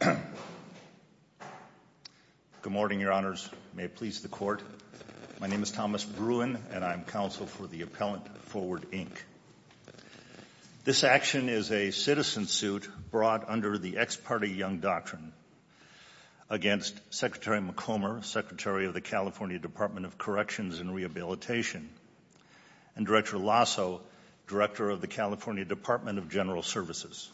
Good morning, Your Honors. May it please the Court. My name is Thomas Bruin, and I am counsel for the Appellant Forward, Inc. This action is a citizen suit brought under the Ex Parte Young Doctrine against Secretary Macomber, Secretary of the California Department of Corrections and Rehabilitation, and Director Lasso, Director of the California Department of General Services.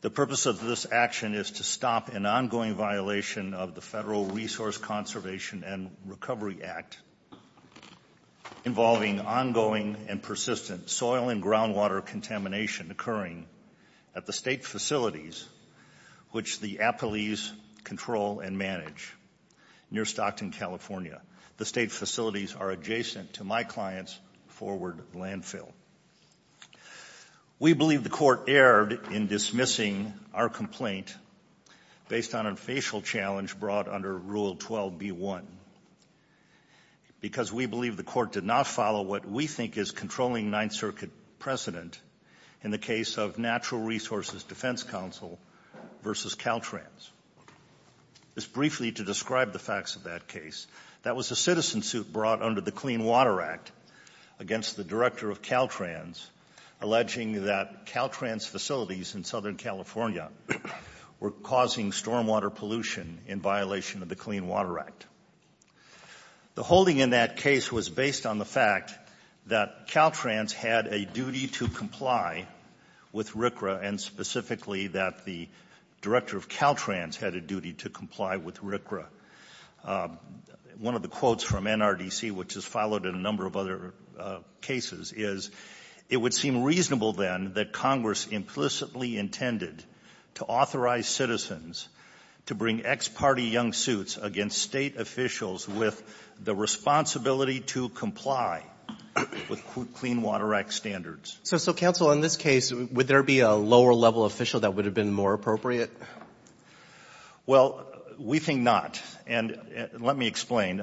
The purpose of this action is to stop an ongoing violation of the Federal Resource Conservation and Recovery Act involving ongoing and persistent soil and groundwater contamination occurring at the state facilities which the appellees control and manage near Stockton, California. The state facilities are adjacent to my client's forward landfill. We believe the Court erred in dismissing our complaint based on a facial challenge brought under Rule 12b-1 because we believe the Court did not follow what we think is controlling Ninth Circuit precedent in the case of Natural Resources Defense Counsel v. Caltrans. Just in the context of that case, that was a citizen suit brought under the Clean Water Act against the Director of Caltrans alleging that Caltrans facilities in Southern California were causing stormwater pollution in violation of the Clean Water Act. The holding in that case was based on the fact that Caltrans had a duty to comply with RCRA and specifically that the Director of Caltrans had a duty to comply with RCRA. One of the quotes from NRDC which is followed in a number of other cases is, it would seem reasonable then that Congress implicitly intended to authorize citizens to bring ex-party young suits against state officials with the responsibility to comply with Clean Water Act standards. So Counsel, in this case, would there be a lower level official that would have been more appropriate? Well, we think not. And let me explain.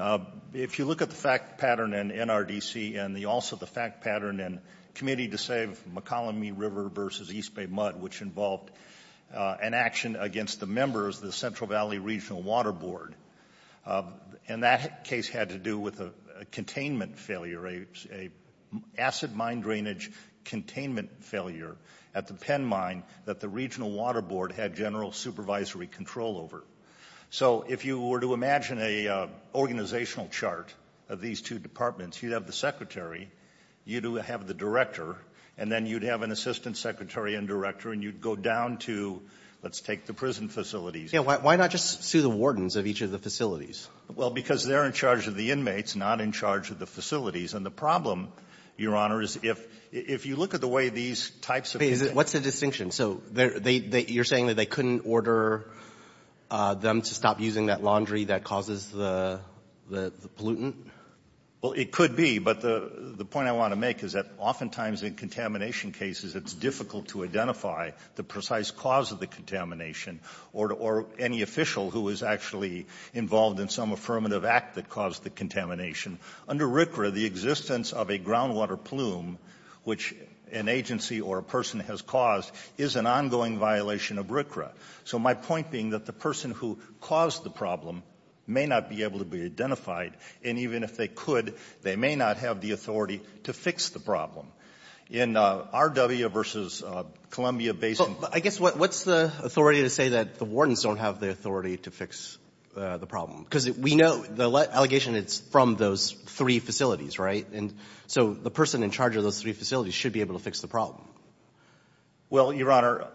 If you look at the fact pattern in NRDC and also the fact pattern in Committee to Save McColumney River v. East Bay Mud which involved an action against the members of the Central Valley Regional Water Board, and that case had to do with a containment failure, an acid mine drainage containment failure at the Penn Mine that the Regional Water Board had general supervisory control over. So if you were to imagine an organizational chart of these two departments, you'd have the Secretary, you'd have the Director, and then you'd have an Assistant Secretary and Director and you'd go down to, let's take the prison facilities. Why not just sue the wardens of each of the facilities? Well, because they're in charge of the inmates, not in charge of the facilities. And the problem, Your Honor, is if you look at the way these types of things Wait. What's the distinction? So you're saying that they couldn't order them to stop using that laundry that causes the pollutant? Well, it could be. But the point I want to make is that oftentimes in contamination cases it's difficult to identify the precise cause of the contamination or any official who is actually involved in some affirmative act that caused the contamination. Under RCRA, the existence of a groundwater plume, which an agency or a person has caused, is an ongoing violation of RCRA. So my point being that the person who caused the problem may not be able to be identified, and even if they could, they may not have the authority to fix the problem. In RW v. Columbia Basin I guess what's the authority to say that the wardens don't have the authority to fix the problem? Because we know the allegation is from those three facilities, right? And so the person in charge of those three facilities should be able to fix the problem. Well, Your Honor,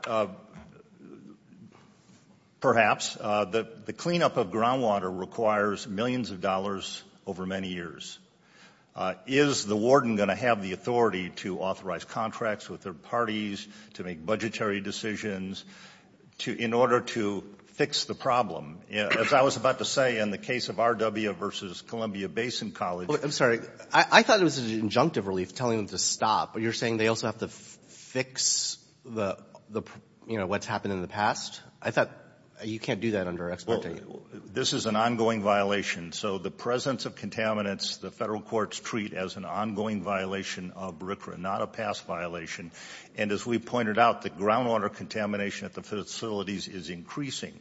perhaps. The cleanup of groundwater requires millions of dollars over many years. Is the warden going to have the authority to authorize contracts with their parties, to make budgetary decisions, in order to fix the problem? As I was about to say, in the case of RW v. Columbia Basin College I'm sorry. I thought it was an injunctive relief telling them to stop, but you're saying they also have to fix what's happened in the past? I thought you can't do that under experting. This is an ongoing violation. So the presence of contaminants the federal courts treat as an ongoing violation of BRICRA, not a past violation. And as we pointed out, the groundwater contamination at the facilities is increasing.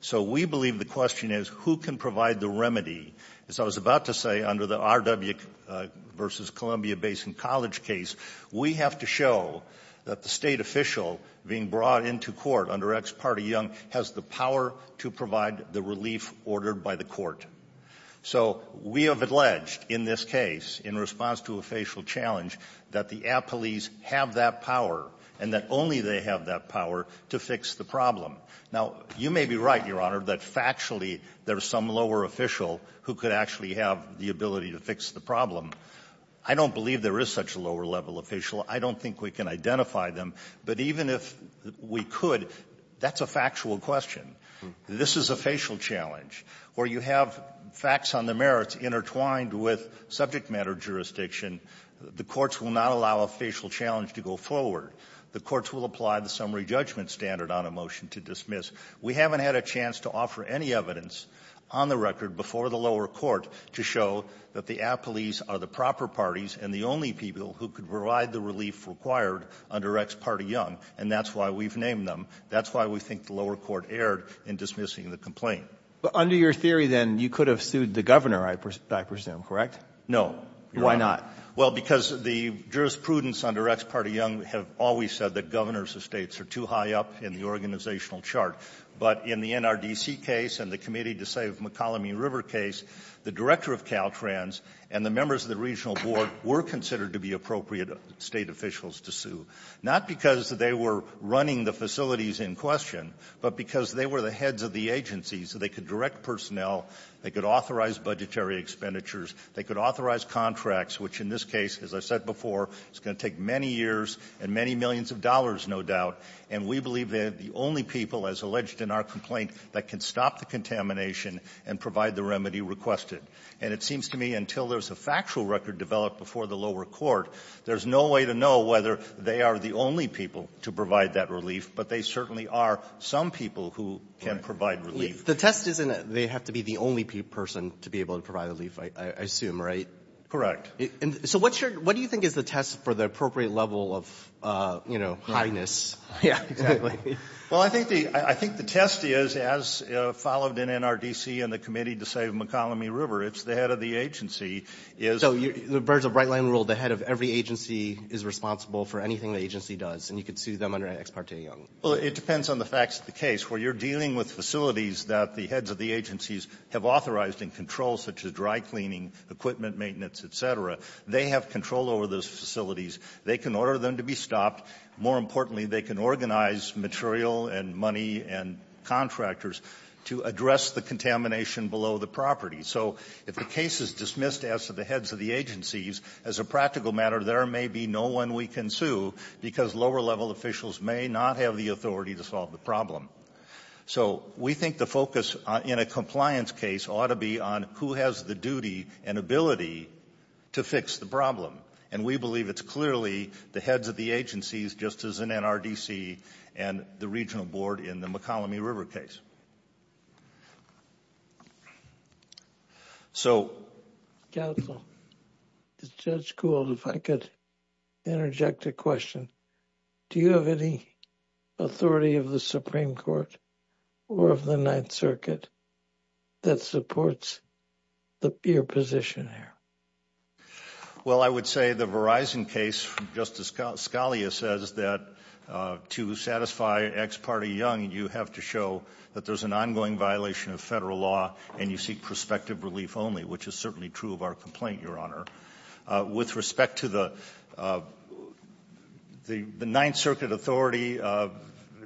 So we believe the question is, who can provide the remedy? As I was about to say, under the RW v. Columbia Basin College case, we have to show that the state official being brought into court under ex parte young has the power to provide the relief ordered by the court. So we have alleged in this case, in response to a facial challenge, that the appellees have that power and that only they have that power to fix the problem. Now, you may be right, Your Honor, that factually there's some lower official who could actually have the ability to fix the problem. I don't believe there is such a lower-level official. I don't think we can identify them. But even if we could, that's a factual question. This is a facial challenge where you have facts on the merits intertwined with subject matter jurisdiction. The courts will not allow a facial challenge to go forward. The courts will apply the summary judgment standard on a motion to dismiss. We haven't had a chance to offer any evidence on the record before the lower court to show that the appellees are the proper parties and the only people who could provide the relief required under ex parte young. And that's why we've named them. That's why we think the lower court erred in dismissing the complaint. But under your theory, then, you could have sued the governor, I presume, correct? No. Why not? Well, because the jurisprudence under ex parte young have always said that governors of states are too high up in the organizational chart. But in the NRDC case and the Committee to Save McCallum E. River case, the director of Caltrans and the members of the regional board were considered to be appropriate state officials to sue, not because they were running the facilities in question, but because they were the heads of the agency, so they could direct personnel, they could authorize budgetary expenditures, they could authorize contracts, which in this case, as I said before, is going to take many years and many millions of dollars, no doubt. And we believe they're the only people, as alleged in our complaint, that can stop the contamination and provide the And it seems to me until there's a factual record developed before the lower court, there's no way to know whether they are the only people to provide that relief, but they certainly are some people who can provide relief. The test isn't that they have to be the only person to be able to provide relief, I assume, right? Correct. So what's your what do you think is the test for the appropriate level of, you know, highness? Yeah, exactly. Well, I think the I think the test is, as followed in NRDC and the Committee to Save McColumby River, it's the head of the agency is So the birds of bright light rule, the head of every agency is responsible for anything the agency does, and you could sue them under Ex parte Young. Well, it depends on the facts of the case. Where you're dealing with facilities that the heads of the agencies have authorized and control, such as dry cleaning, equipment maintenance, et cetera, they have control over those facilities. They can order them to be stopped. More importantly, they can organize material and money and contractors to address the contamination below the property. So if the case is dismissed as to the heads of the agencies, as a practical matter, there may be no one we can sue because lower level officials may not have the authority to solve the problem. So we think the focus in a compliance case ought to be on who has the duty and ability to fix the problem. And we believe it's clearly the heads of the agencies, just as in NRDC and the regional board in the McColumney River case. So, counsel, Judge Gould, if I could interject a question, do you have any authority of the Supreme Court or of the Ninth Circuit that supports your position here? Well, I would say the Verizon case, Justice Scalia says that to satisfy ex parte young, you have to show that there's an ongoing violation of federal law and you seek prospective relief only, which is certainly true of our complaint, Your Honor. With respect to the Ninth Circuit authority,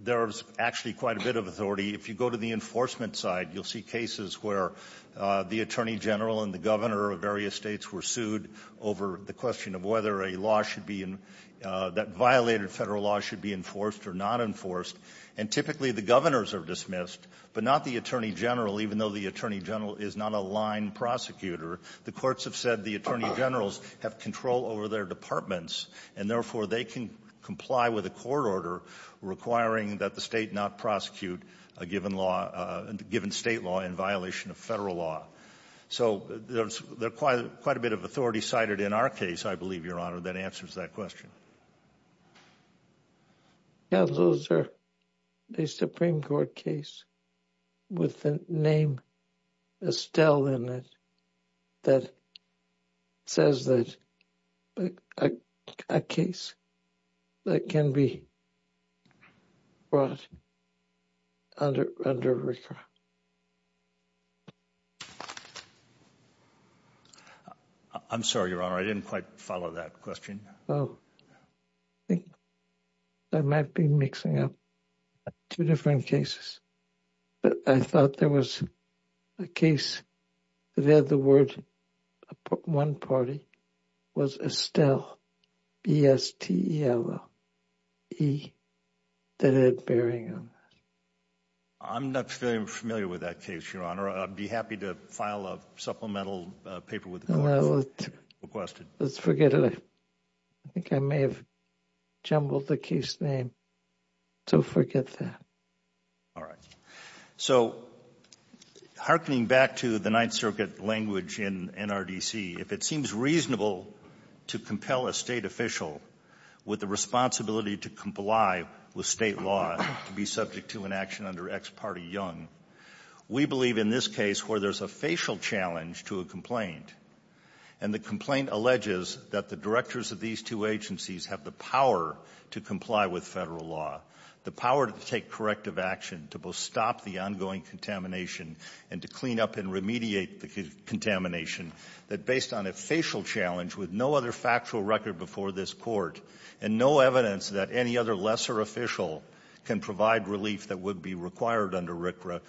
there's actually quite a bit of authority. If you go to the enforcement side, you'll see cases where the attorney general and the other states were sued over the question of whether a law should be, that violated federal law should be enforced or not enforced. And typically the governors are dismissed, but not the attorney general, even though the attorney general is not a line prosecutor. The courts have said the attorney generals have control over their departments and therefore they can comply with a court order requiring that the state not prosecute a given state law in violation of federal law. So there's quite a bit of authority cited in our case, I believe, Your Honor, that answers that question. Yeah, those are a Supreme Court case with the name Estelle in it that says that a case that can be brought under recourse. I'm sorry, Your Honor. I didn't quite follow that question. Oh, I think I might be mixing up two different cases, but I thought there was a case that said the word one party was Estelle, B-E-S-T-E-L-L-E, that had bearing on that. I'm not familiar with that case, Your Honor. I'd be happy to file a supplemental paper with the court if requested. Let's forget it. I think I may have jumbled the case name, so forget that. All right. So hearkening back to the Ninth Circuit language in NRDC, if it seems reasonable to compel a State official with the responsibility to comply with State law to be subject to an action under Ex parte Young, we believe in this case where there's a facial challenge to a complaint, and the complaint alleges that the directors of these two have the power to comply with Federal law, the power to take corrective action to both stop the ongoing contamination and to clean up and remediate the contamination, that based on a facial challenge with no other factual record before this Court, and no evidence that any other lesser official can provide relief that would be required under RCRA,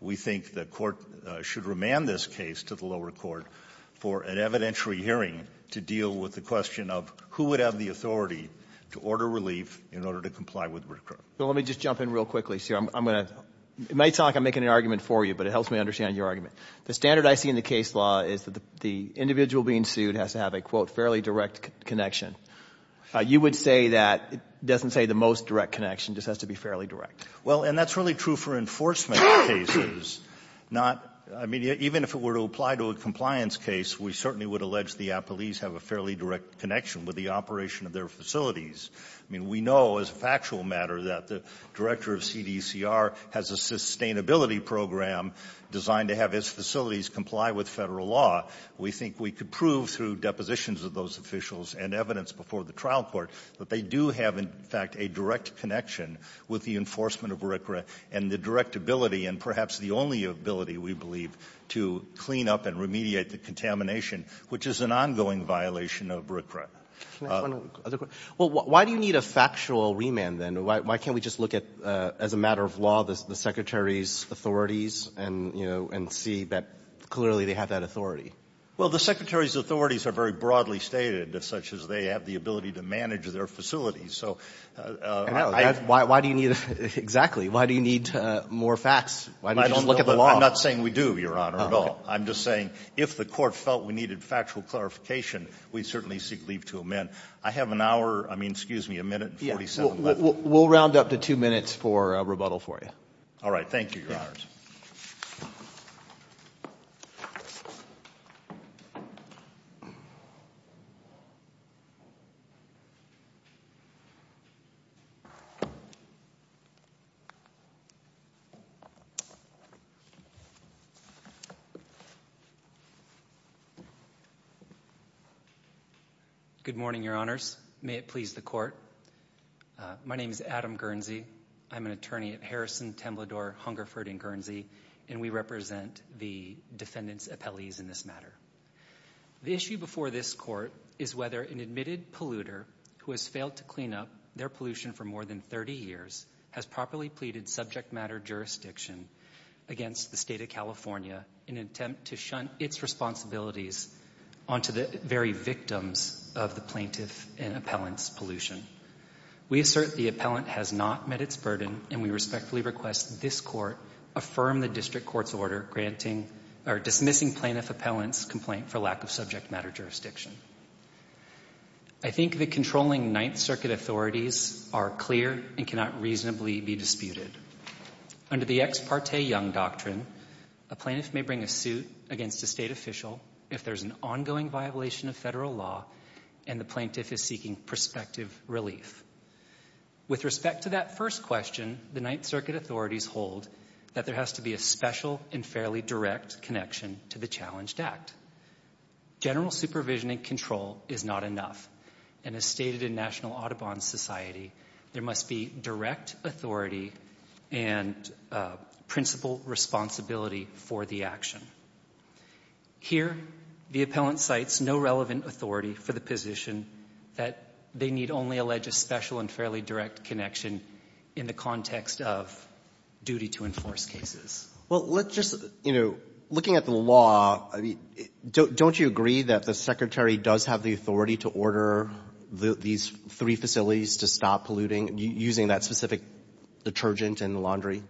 we think the Court should remand this case to the lower court for an evidentiary hearing to deal with the question of who would have the authority to order relief in order to comply with RCRA. Let me just jump in real quickly, sir. I'm going to – it might sound like I'm making an argument for you, but it helps me understand your argument. The standard I see in the case law is that the individual being sued has to have a, quote, fairly direct connection. You would say that it doesn't say the most direct connection, it just has to be fairly direct. Well, and that's really true for enforcement cases, not – I mean, even if it were to apply to a compliance case, we certainly would allege the appellees have a fairly direct connection with the operation of their facilities. I mean, we know as a factual matter that the director of CDCR has a sustainability program designed to have his facilities comply with federal law. We think we could prove through depositions of those officials and evidence before the trial court that they do have, in fact, a direct connection with the enforcement of RCRA and the direct ability and perhaps the only ability, we believe, to clean up and remediate the contamination, which is an ongoing violation of RCRA. Can I ask one other question? Well, why do you need a factual remand, then? Why can't we just look at, as a matter of law, the Secretary's authorities and, you know, and see that clearly they have that authority? Well, the Secretary's authorities are very broadly stated, such as they have the ability to manage their facilities. So I don't know. Why do you need, exactly, why do you need more facts? Why don't you just look at the law? I'm not saying we do, Your Honor, at all. I'm just saying if the court felt we needed factual clarification, we certainly seek leave to amend. I have an hour, I mean, excuse me, a minute and forty-seven minutes. We'll round up to two minutes for rebuttal for you. All right. Thank you, Your Honors. Good morning, Your Honors. May it please the Court. My name is Adam Guernsey. I'm an attorney at Harrison, Temblador, Hungerford & Guernsey, and we represent the defendant's appellees in this matter. The issue before this Court is whether an admitted polluter who has failed to clean up their pollution for more than thirty years has properly pleaded subject matter jurisdiction against the State of California in an attempt to shunt its responsibilities onto the very victims of the plaintiff and appellant's pollution. We assert the appellant has not met its burden, and we respectfully request this Court affirm the district court's order granting or dismissing plaintiff appellant's complaint for lack of subject matter jurisdiction. I think the controlling Ninth Circuit authorities are clear and cannot reasonably be disputed. Under the ex parte Young Doctrine, a plaintiff may bring a suit against a State official if there is an ongoing violation of Federal law and the plaintiff is seeking prospective relief. With respect to that first question, the Ninth Circuit authorities hold that there has to be a special and fairly direct connection to the challenged act. General supervision and control is not enough, and as stated in National Audubon Society, there must be direct authority and principal responsibility for the action. Here, the appellant cites no relevant authority for the position that they need only allege a special and fairly direct connection in the context of duty to enforce cases. Well, let's just, you know, looking at the law, don't you agree that the Secretary does have the authority to order these three facilities to stop polluting using that specific detergent and laundry?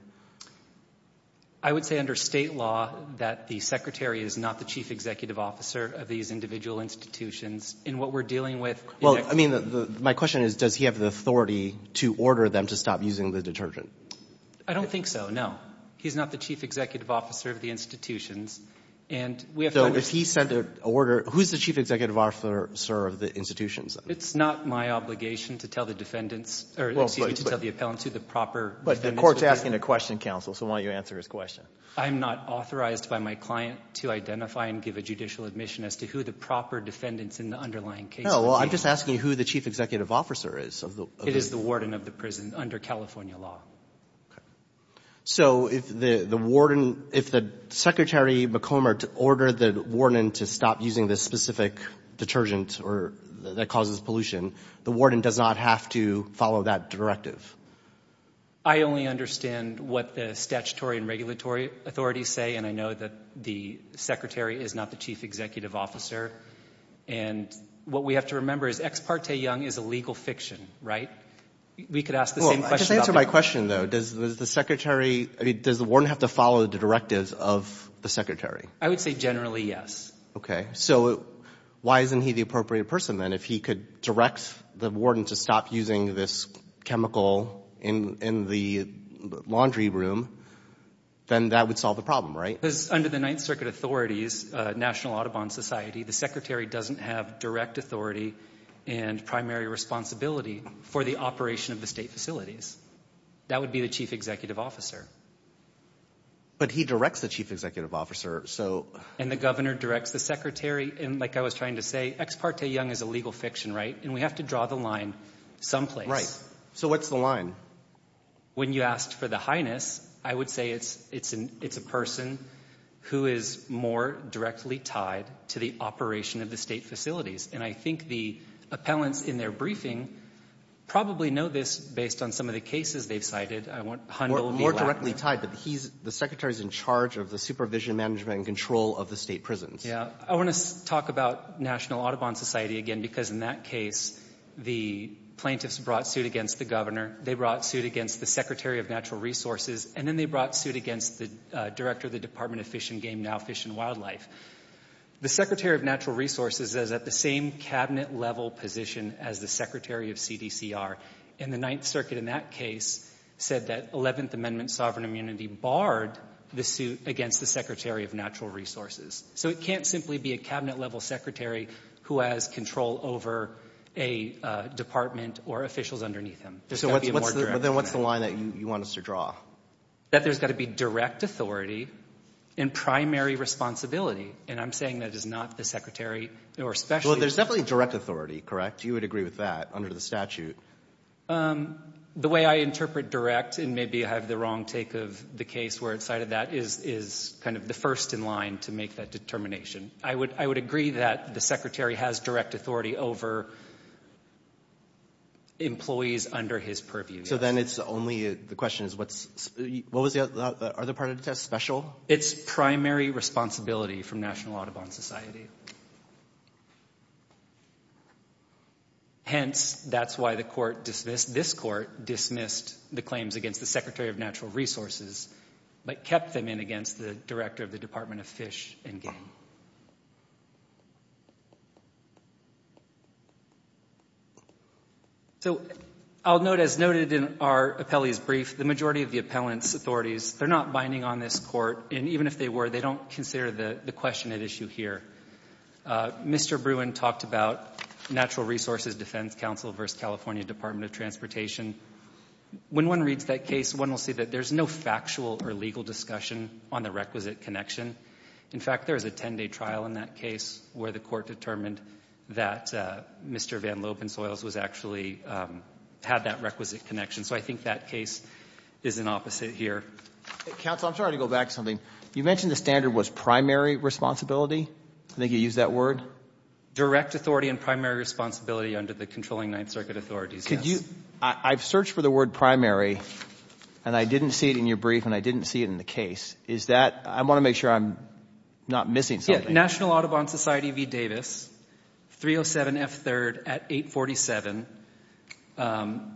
I would say under State law that the Secretary is not the chief executive officer of these individual institutions. In what we're dealing with the next week. Well, I mean, my question is, does he have the authority to order them to stop using the detergent? I don't think so, no. He's not the chief executive officer of the institutions. And we have to understand. So if he sent an order, who's the chief executive officer of the institutions? It's not my obligation to tell the defendants, or excuse me, to tell the appellants who the proper defendants would be. But the court's asking a question, counsel, so why don't you answer his question? I'm not authorized by my client to identify and give a judicial admission as to who the proper defendants in the underlying case would be. No, well, I'm just asking who the chief executive officer is. It is the warden of the prison under California law. So if the warden, if the Secretary McCormick ordered the warden to stop using this specific detergent that causes pollution, the warden does not have to follow that directive? I only understand what the statutory and regulatory authorities say, and I know that the Secretary is not the chief executive officer. And what we have to remember is Ex Parte Young is a legal fiction, right? We could ask the same question about that. Well, I guess to answer my question, though, does the Secretary, does the warden have to follow the directives of the Secretary? I would say generally, yes. Okay. So why isn't he the appropriate person, then, if he could direct the warden to stop using this chemical in the laundry room, then that would solve the problem, right? Because under the Ninth Circuit authorities, National Audubon Society, the Secretary doesn't have direct authority and primary responsibility for the operation of the state facilities. That would be the chief executive officer. But he directs the chief executive officer, so... And the governor directs the Secretary, and like I was trying to say, Ex Parte Young is legal fiction, right? And we have to draw the line someplace. So what's the line? When you asked for the Highness, I would say it's a person who is more directly tied to the operation of the state facilities. And I think the appellants in their briefing probably know this based on some of the cases they've cited. I won't humble me. More directly tied. But he's, the Secretary's in charge of the supervision, management, and control of the state prisons. Yeah. I want to talk about National Audubon Society again, because in that case, the plaintiffs brought suit against the governor. They brought suit against the Secretary of Natural Resources. And then they brought suit against the director of the Department of Fish and Game, now Fish and Wildlife. The Secretary of Natural Resources is at the same cabinet level position as the Secretary of CDCR. And the Ninth Circuit in that case said that 11th Amendment sovereign immunity barred the suit against the Secretary of Natural Resources. So it can't simply be a cabinet level secretary who has control over a department or officials underneath him. There's got to be a more direct. But then what's the line that you want us to draw? That there's got to be direct authority and primary responsibility. And I'm saying that is not the secretary or specialist. Well, there's definitely direct authority, correct? You would agree with that under the statute. The way I interpret direct, and maybe I have the wrong take of the case where it cited that is kind of the first in line to make that determination. I would agree that the secretary has direct authority over employees under his purview. So then it's only, the question is what's, what was the other part of the test, special? It's primary responsibility from National Audubon Society. Hence that's why the court dismissed, this court dismissed the claims against the Secretary of Natural Resources, but kept them in against the director of the Department of Fish and Game. So I'll note, as noted in our appellee's brief, the majority of the appellant's authorities, they're not binding on this court, and even if they were, they don't consider the question at issue here. Mr. Bruin talked about Natural Resources Defense Council versus California Department of Transportation. When one reads that case, one will see that there's no factual or legal discussion on the requisite connection. In fact, there is a 10-day trial in that case where the court determined that Mr. Van Lopen Soils was actually, had that requisite connection. So I think that case is an opposite here. Counsel, I'm sorry to go back to something. You mentioned the standard was primary responsibility? I think you used that word. Direct authority and primary responsibility under the controlling Ninth Circuit authorities, yes. I've searched for the word primary, and I didn't see it in your brief, and I didn't see it in the case. Is that, I want to make sure I'm not missing something. National Audubon Society v. Davis, 307 F. 3rd at 847,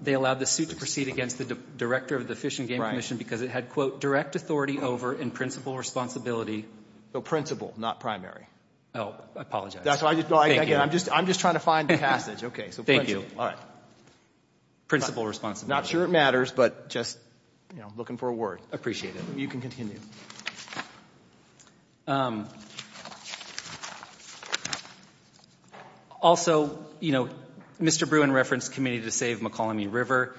they allowed the suit to proceed against the director of the Fish and Game Commission because it had, quote, direct authority over in principle responsibility. So principle, not primary. Oh, I apologize. That's why, again, I'm just trying to find the passage. Okay, so principle. Thank you. All right. Principle responsibility. I'm not sure it matters, but just, you know, looking for a word. Appreciate it. You can continue. Also, you know, Mr. Bruin referenced Committee to Save McCallum E. River.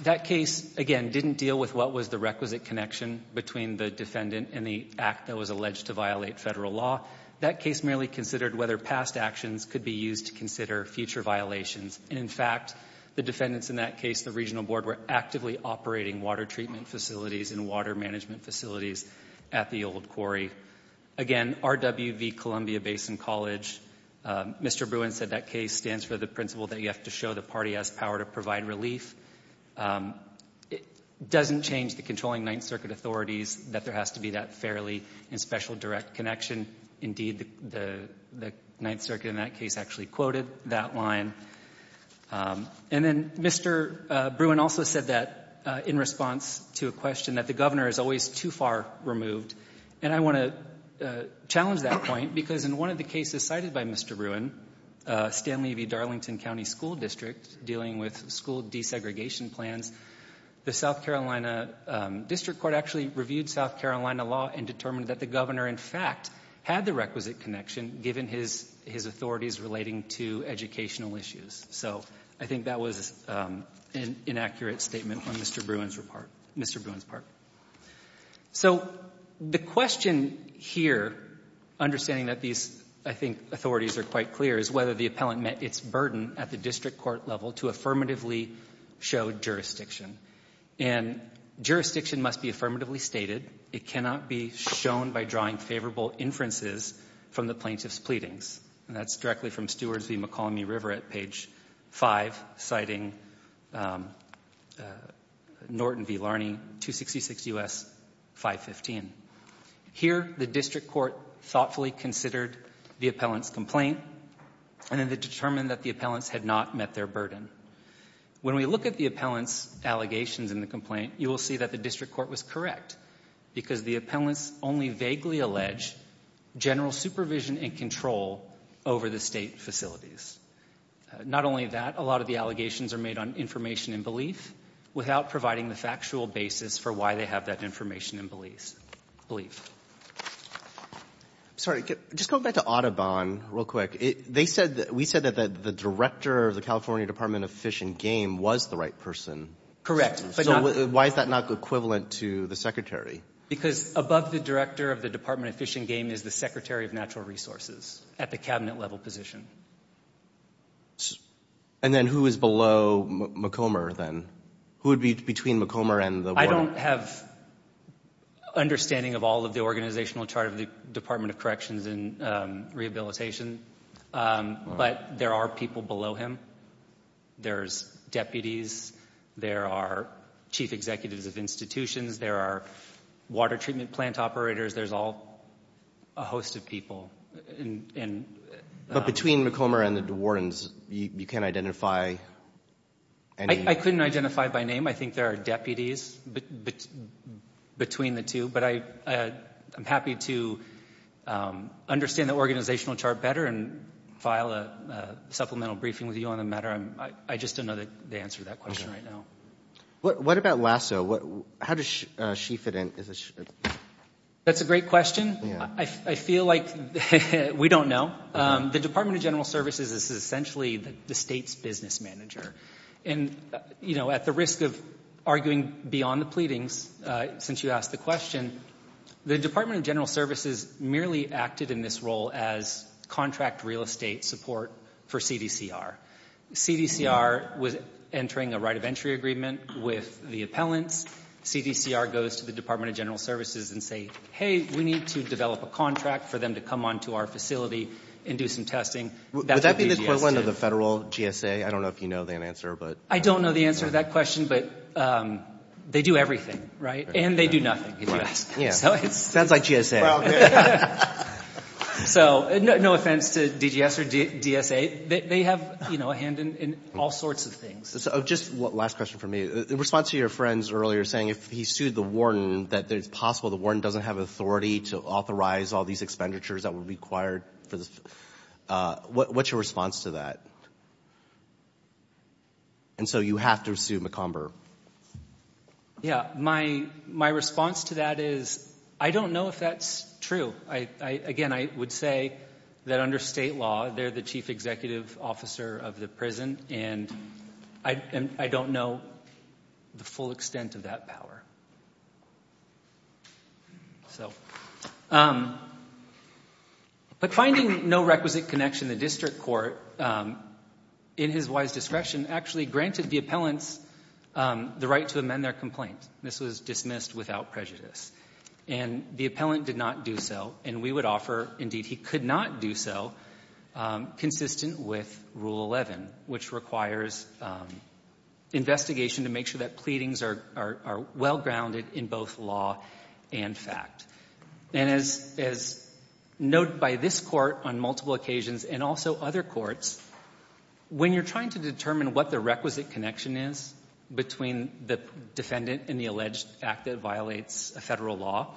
That case, again, didn't deal with what was the requisite connection between the defendant and the act that was alleged to violate Federal law. That case merely considered whether past actions could be used to consider future violations And, in fact, the defendants in that case, the regional board, were actively operating water treatment facilities and water management facilities at the old quarry. Again, RW v. Columbia Basin College, Mr. Bruin said that case stands for the principle that you have to show the party has power to provide relief. It doesn't change the controlling Ninth Circuit authorities that there has to be that fairly and special direct connection. Indeed, the Ninth Circuit in that case actually quoted that line. And then Mr. Bruin also said that in response to a question that the governor is always too far removed. And I want to challenge that point because in one of the cases cited by Mr. Bruin, Stan Levy Darlington County School District dealing with school desegregation plans, the South Carolina District Court actually reviewed South Carolina law and determined that the had the requisite connection given his authorities relating to educational issues. So I think that was an inaccurate statement on Mr. Bruin's part. So the question here, understanding that these, I think, authorities are quite clear, is whether the appellant met its burden at the district court level to affirmatively show jurisdiction. And jurisdiction must be affirmatively stated. It cannot be shown by drawing favorable inferences from the plaintiff's pleadings. And that's directly from Stewards v. McCallamy River at page 5, citing Norton v. Larney, 266 U.S. 515. Here, the district court thoughtfully considered the appellant's complaint and then determined that the appellants had not met their burden. When we look at the appellant's allegations in the complaint, you will see that the district court was correct because the appellants only vaguely allege general supervision and control over the state facilities. Not only that, a lot of the allegations are made on information and belief without providing the factual basis for why they have that information and belief. I'm sorry, just going back to Audubon real quick, they said, we said that the director of the California Department of Fish and Game was the right person. Correct. Why is that not equivalent to the secretary? Because above the director of the Department of Fish and Game is the secretary of natural resources at the cabinet level position. And then who is below McComber then? Who would be between McComber and the... I don't have understanding of all of the organizational chart of the Department of Corrections and Rehabilitation, but there are people below him. There's deputies. There are chief executives of institutions. There are water treatment plant operators. There's all a host of people. But between McComber and the DeWardens, you can't identify any? I couldn't identify by name. I think there are deputies between the two. But I'm happy to understand the organizational chart better and file a supplemental briefing with you on the matter. I just don't know the answer to that question right now. What about Lasso? How does she fit in? That's a great question. I feel like we don't know. The Department of General Services is essentially the state's business manager. And at the risk of arguing beyond the pleadings, since you asked the question, the Department of General Services merely acted in this role as contract real estate support for CDCR. CDCR was entering a right of entry agreement with the appellants. CDCR goes to the Department of General Services and say, hey, we need to develop a contract for them to come onto our facility and do some testing. Would that be the equivalent of the federal GSA? I don't know if you know the answer. I don't know the answer to that question, but they do everything, right? And they do nothing, if you ask me. Yeah, sounds like GSA. So no offense to DGS or DSA, they have a hand in all sorts of things. Just one last question for me. In response to your friends earlier saying if he sued the warden, that it's possible the warden doesn't have authority to authorize all these expenditures that would be required. What's your response to that? And so you have to sue McComber. Yeah, my response to that is I don't know if that's true. Again, I would say that under state law, they're the chief executive officer of the prison and I don't know the full extent of that power. But finding no requisite connection in the district court, in his wise discretion, actually granted the appellants the right to amend their complaint. This was dismissed without prejudice. And the appellant did not do so and we would offer, indeed he could not do so, consistent with Rule 11, which requires investigation to make sure that pleadings are well grounded in both law and fact. And as noted by this court on multiple occasions and also other courts, when you're trying to determine what the requisite connection is between the defendant and the alleged act that violates a federal law,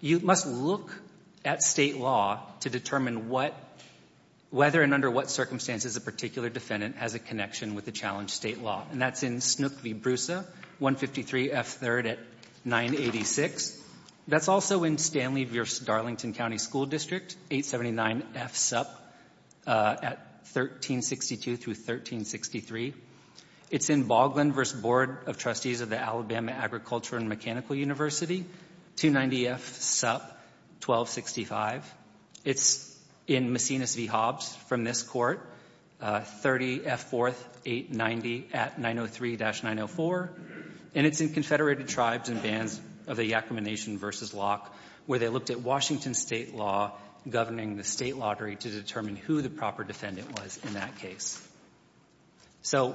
you must look at state law to determine what, whether and under what circumstances a particular defendant has a connection with the challenge state law. And that's in Snook v. Brusa, 153 F. 3rd at 986. That's also in Stanley v. Darlington County School District, 879 F. Supp at 1362-1363. It's in Baughlin v. Board of Trustees of the Alabama Agricultural and Mechanical University, 290 F. Supp, 1265. It's in Macinus v. Hobbs from this court, 30 F. 4th, 890 at 903-904. And it's in Confederated Tribes and Bands of the Yakama Nation v. Locke, where they looked at Washington state law governing the state lottery to determine who the proper defendant was in that case. So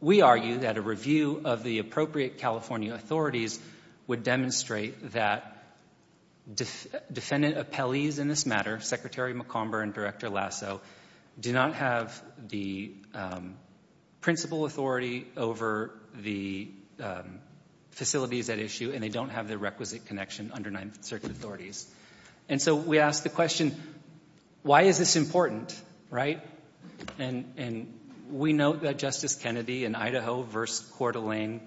we argue that a review of the appropriate California authorities would demonstrate that defendant appellees in this matter, Secretary McComber and Director Lasso, do not have the principal authority over the facilities at issue and they don't have the requisite connection under Ninth Circuit authorities. And so we ask the question, why is this important, right? And we note that Justice Kennedy in Idaho v. Coeur d'Alene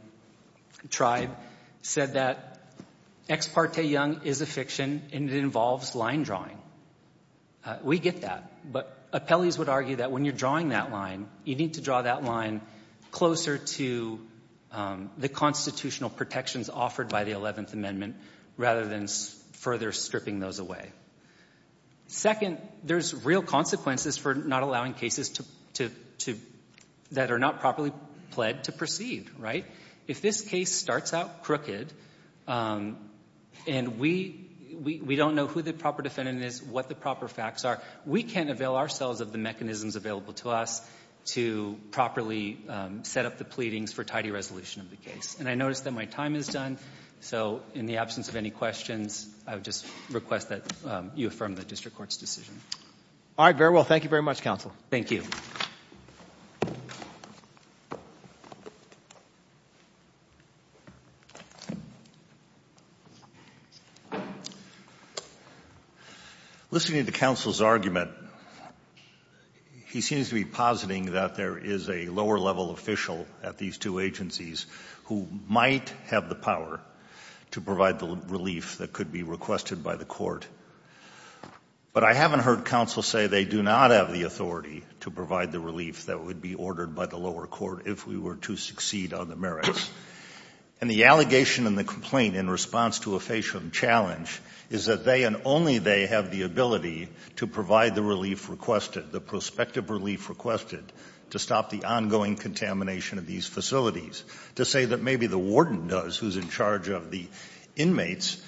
Tribe said that ex parte young is a fiction and it involves line drawing. We get that, but appellees would argue that when you're drawing that line, you need to draw that line closer to the constitutional protections offered by the 11th Amendment rather than further stripping those away. Second, there's real consequences for not allowing cases that are not properly pled to proceed, right? If this case starts out crooked and we don't know who the proper defendant is, what the proper facts are, we can't avail ourselves of the mechanisms available to us to properly set up the pleadings for tidy resolution of the case. And I notice that my time is done. So in the absence of any questions, I would just request that you affirm the district court's decision. All right. Very well. Thank you very much, counsel. Thank you. Listening to counsel's argument, he seems to be positing that there is a lower level official at these two agencies who might have the power to provide the relief that could be requested by the court. But I haven't heard counsel say they do not have the authority to provide the relief that would be ordered by the lower court if we were to succeed on the merits. And the allegation in the complaint in response to a facial challenge is that they and only they have the ability to provide the relief requested, the prospective relief requested to stop the ongoing contamination of these facilities, to say that maybe the warden does who's in charge of the inmates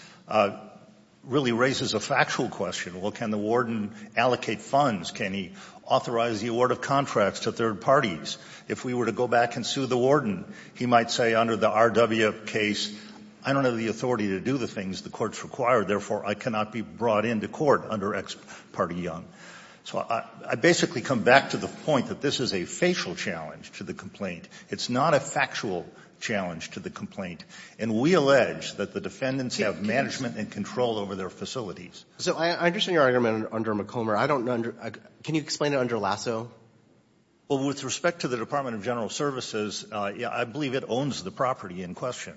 really raises a factual question. Well, can the warden allocate funds? Can he authorize the award of contracts to third parties? If we were to go back and sue the warden, he might say under the R.W. case, I don't have the authority to do the things the courts require, therefore, I cannot be brought into court under Ex parte Young. So I basically come back to the point that this is a facial challenge to the complaint. It's not a factual challenge to the complaint. And we allege that the defendants have management and control over their facilities. So I understand your argument under McComber. I don't know under — can you explain it under Lasso? Well, with respect to the Department of General Services, I believe it owns the property in question.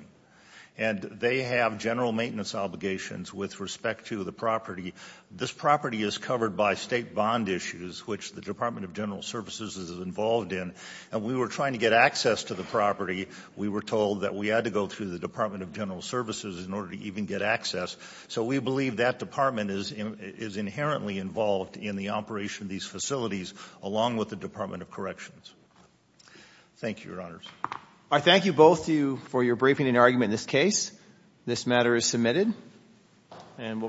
And they have general maintenance obligations with respect to the property. This property is covered by State bond issues, which the Department of General Services is involved in. And we were trying to get access to the property. We were told that we had to go through the Department of General Services in order to even get access. So we believe that department is inherently involved in the operation of these facilities, along with the Department of Corrections. Thank you, Your Honors. I thank you both for your briefing and argument in this case. This matter is submitted, and we'll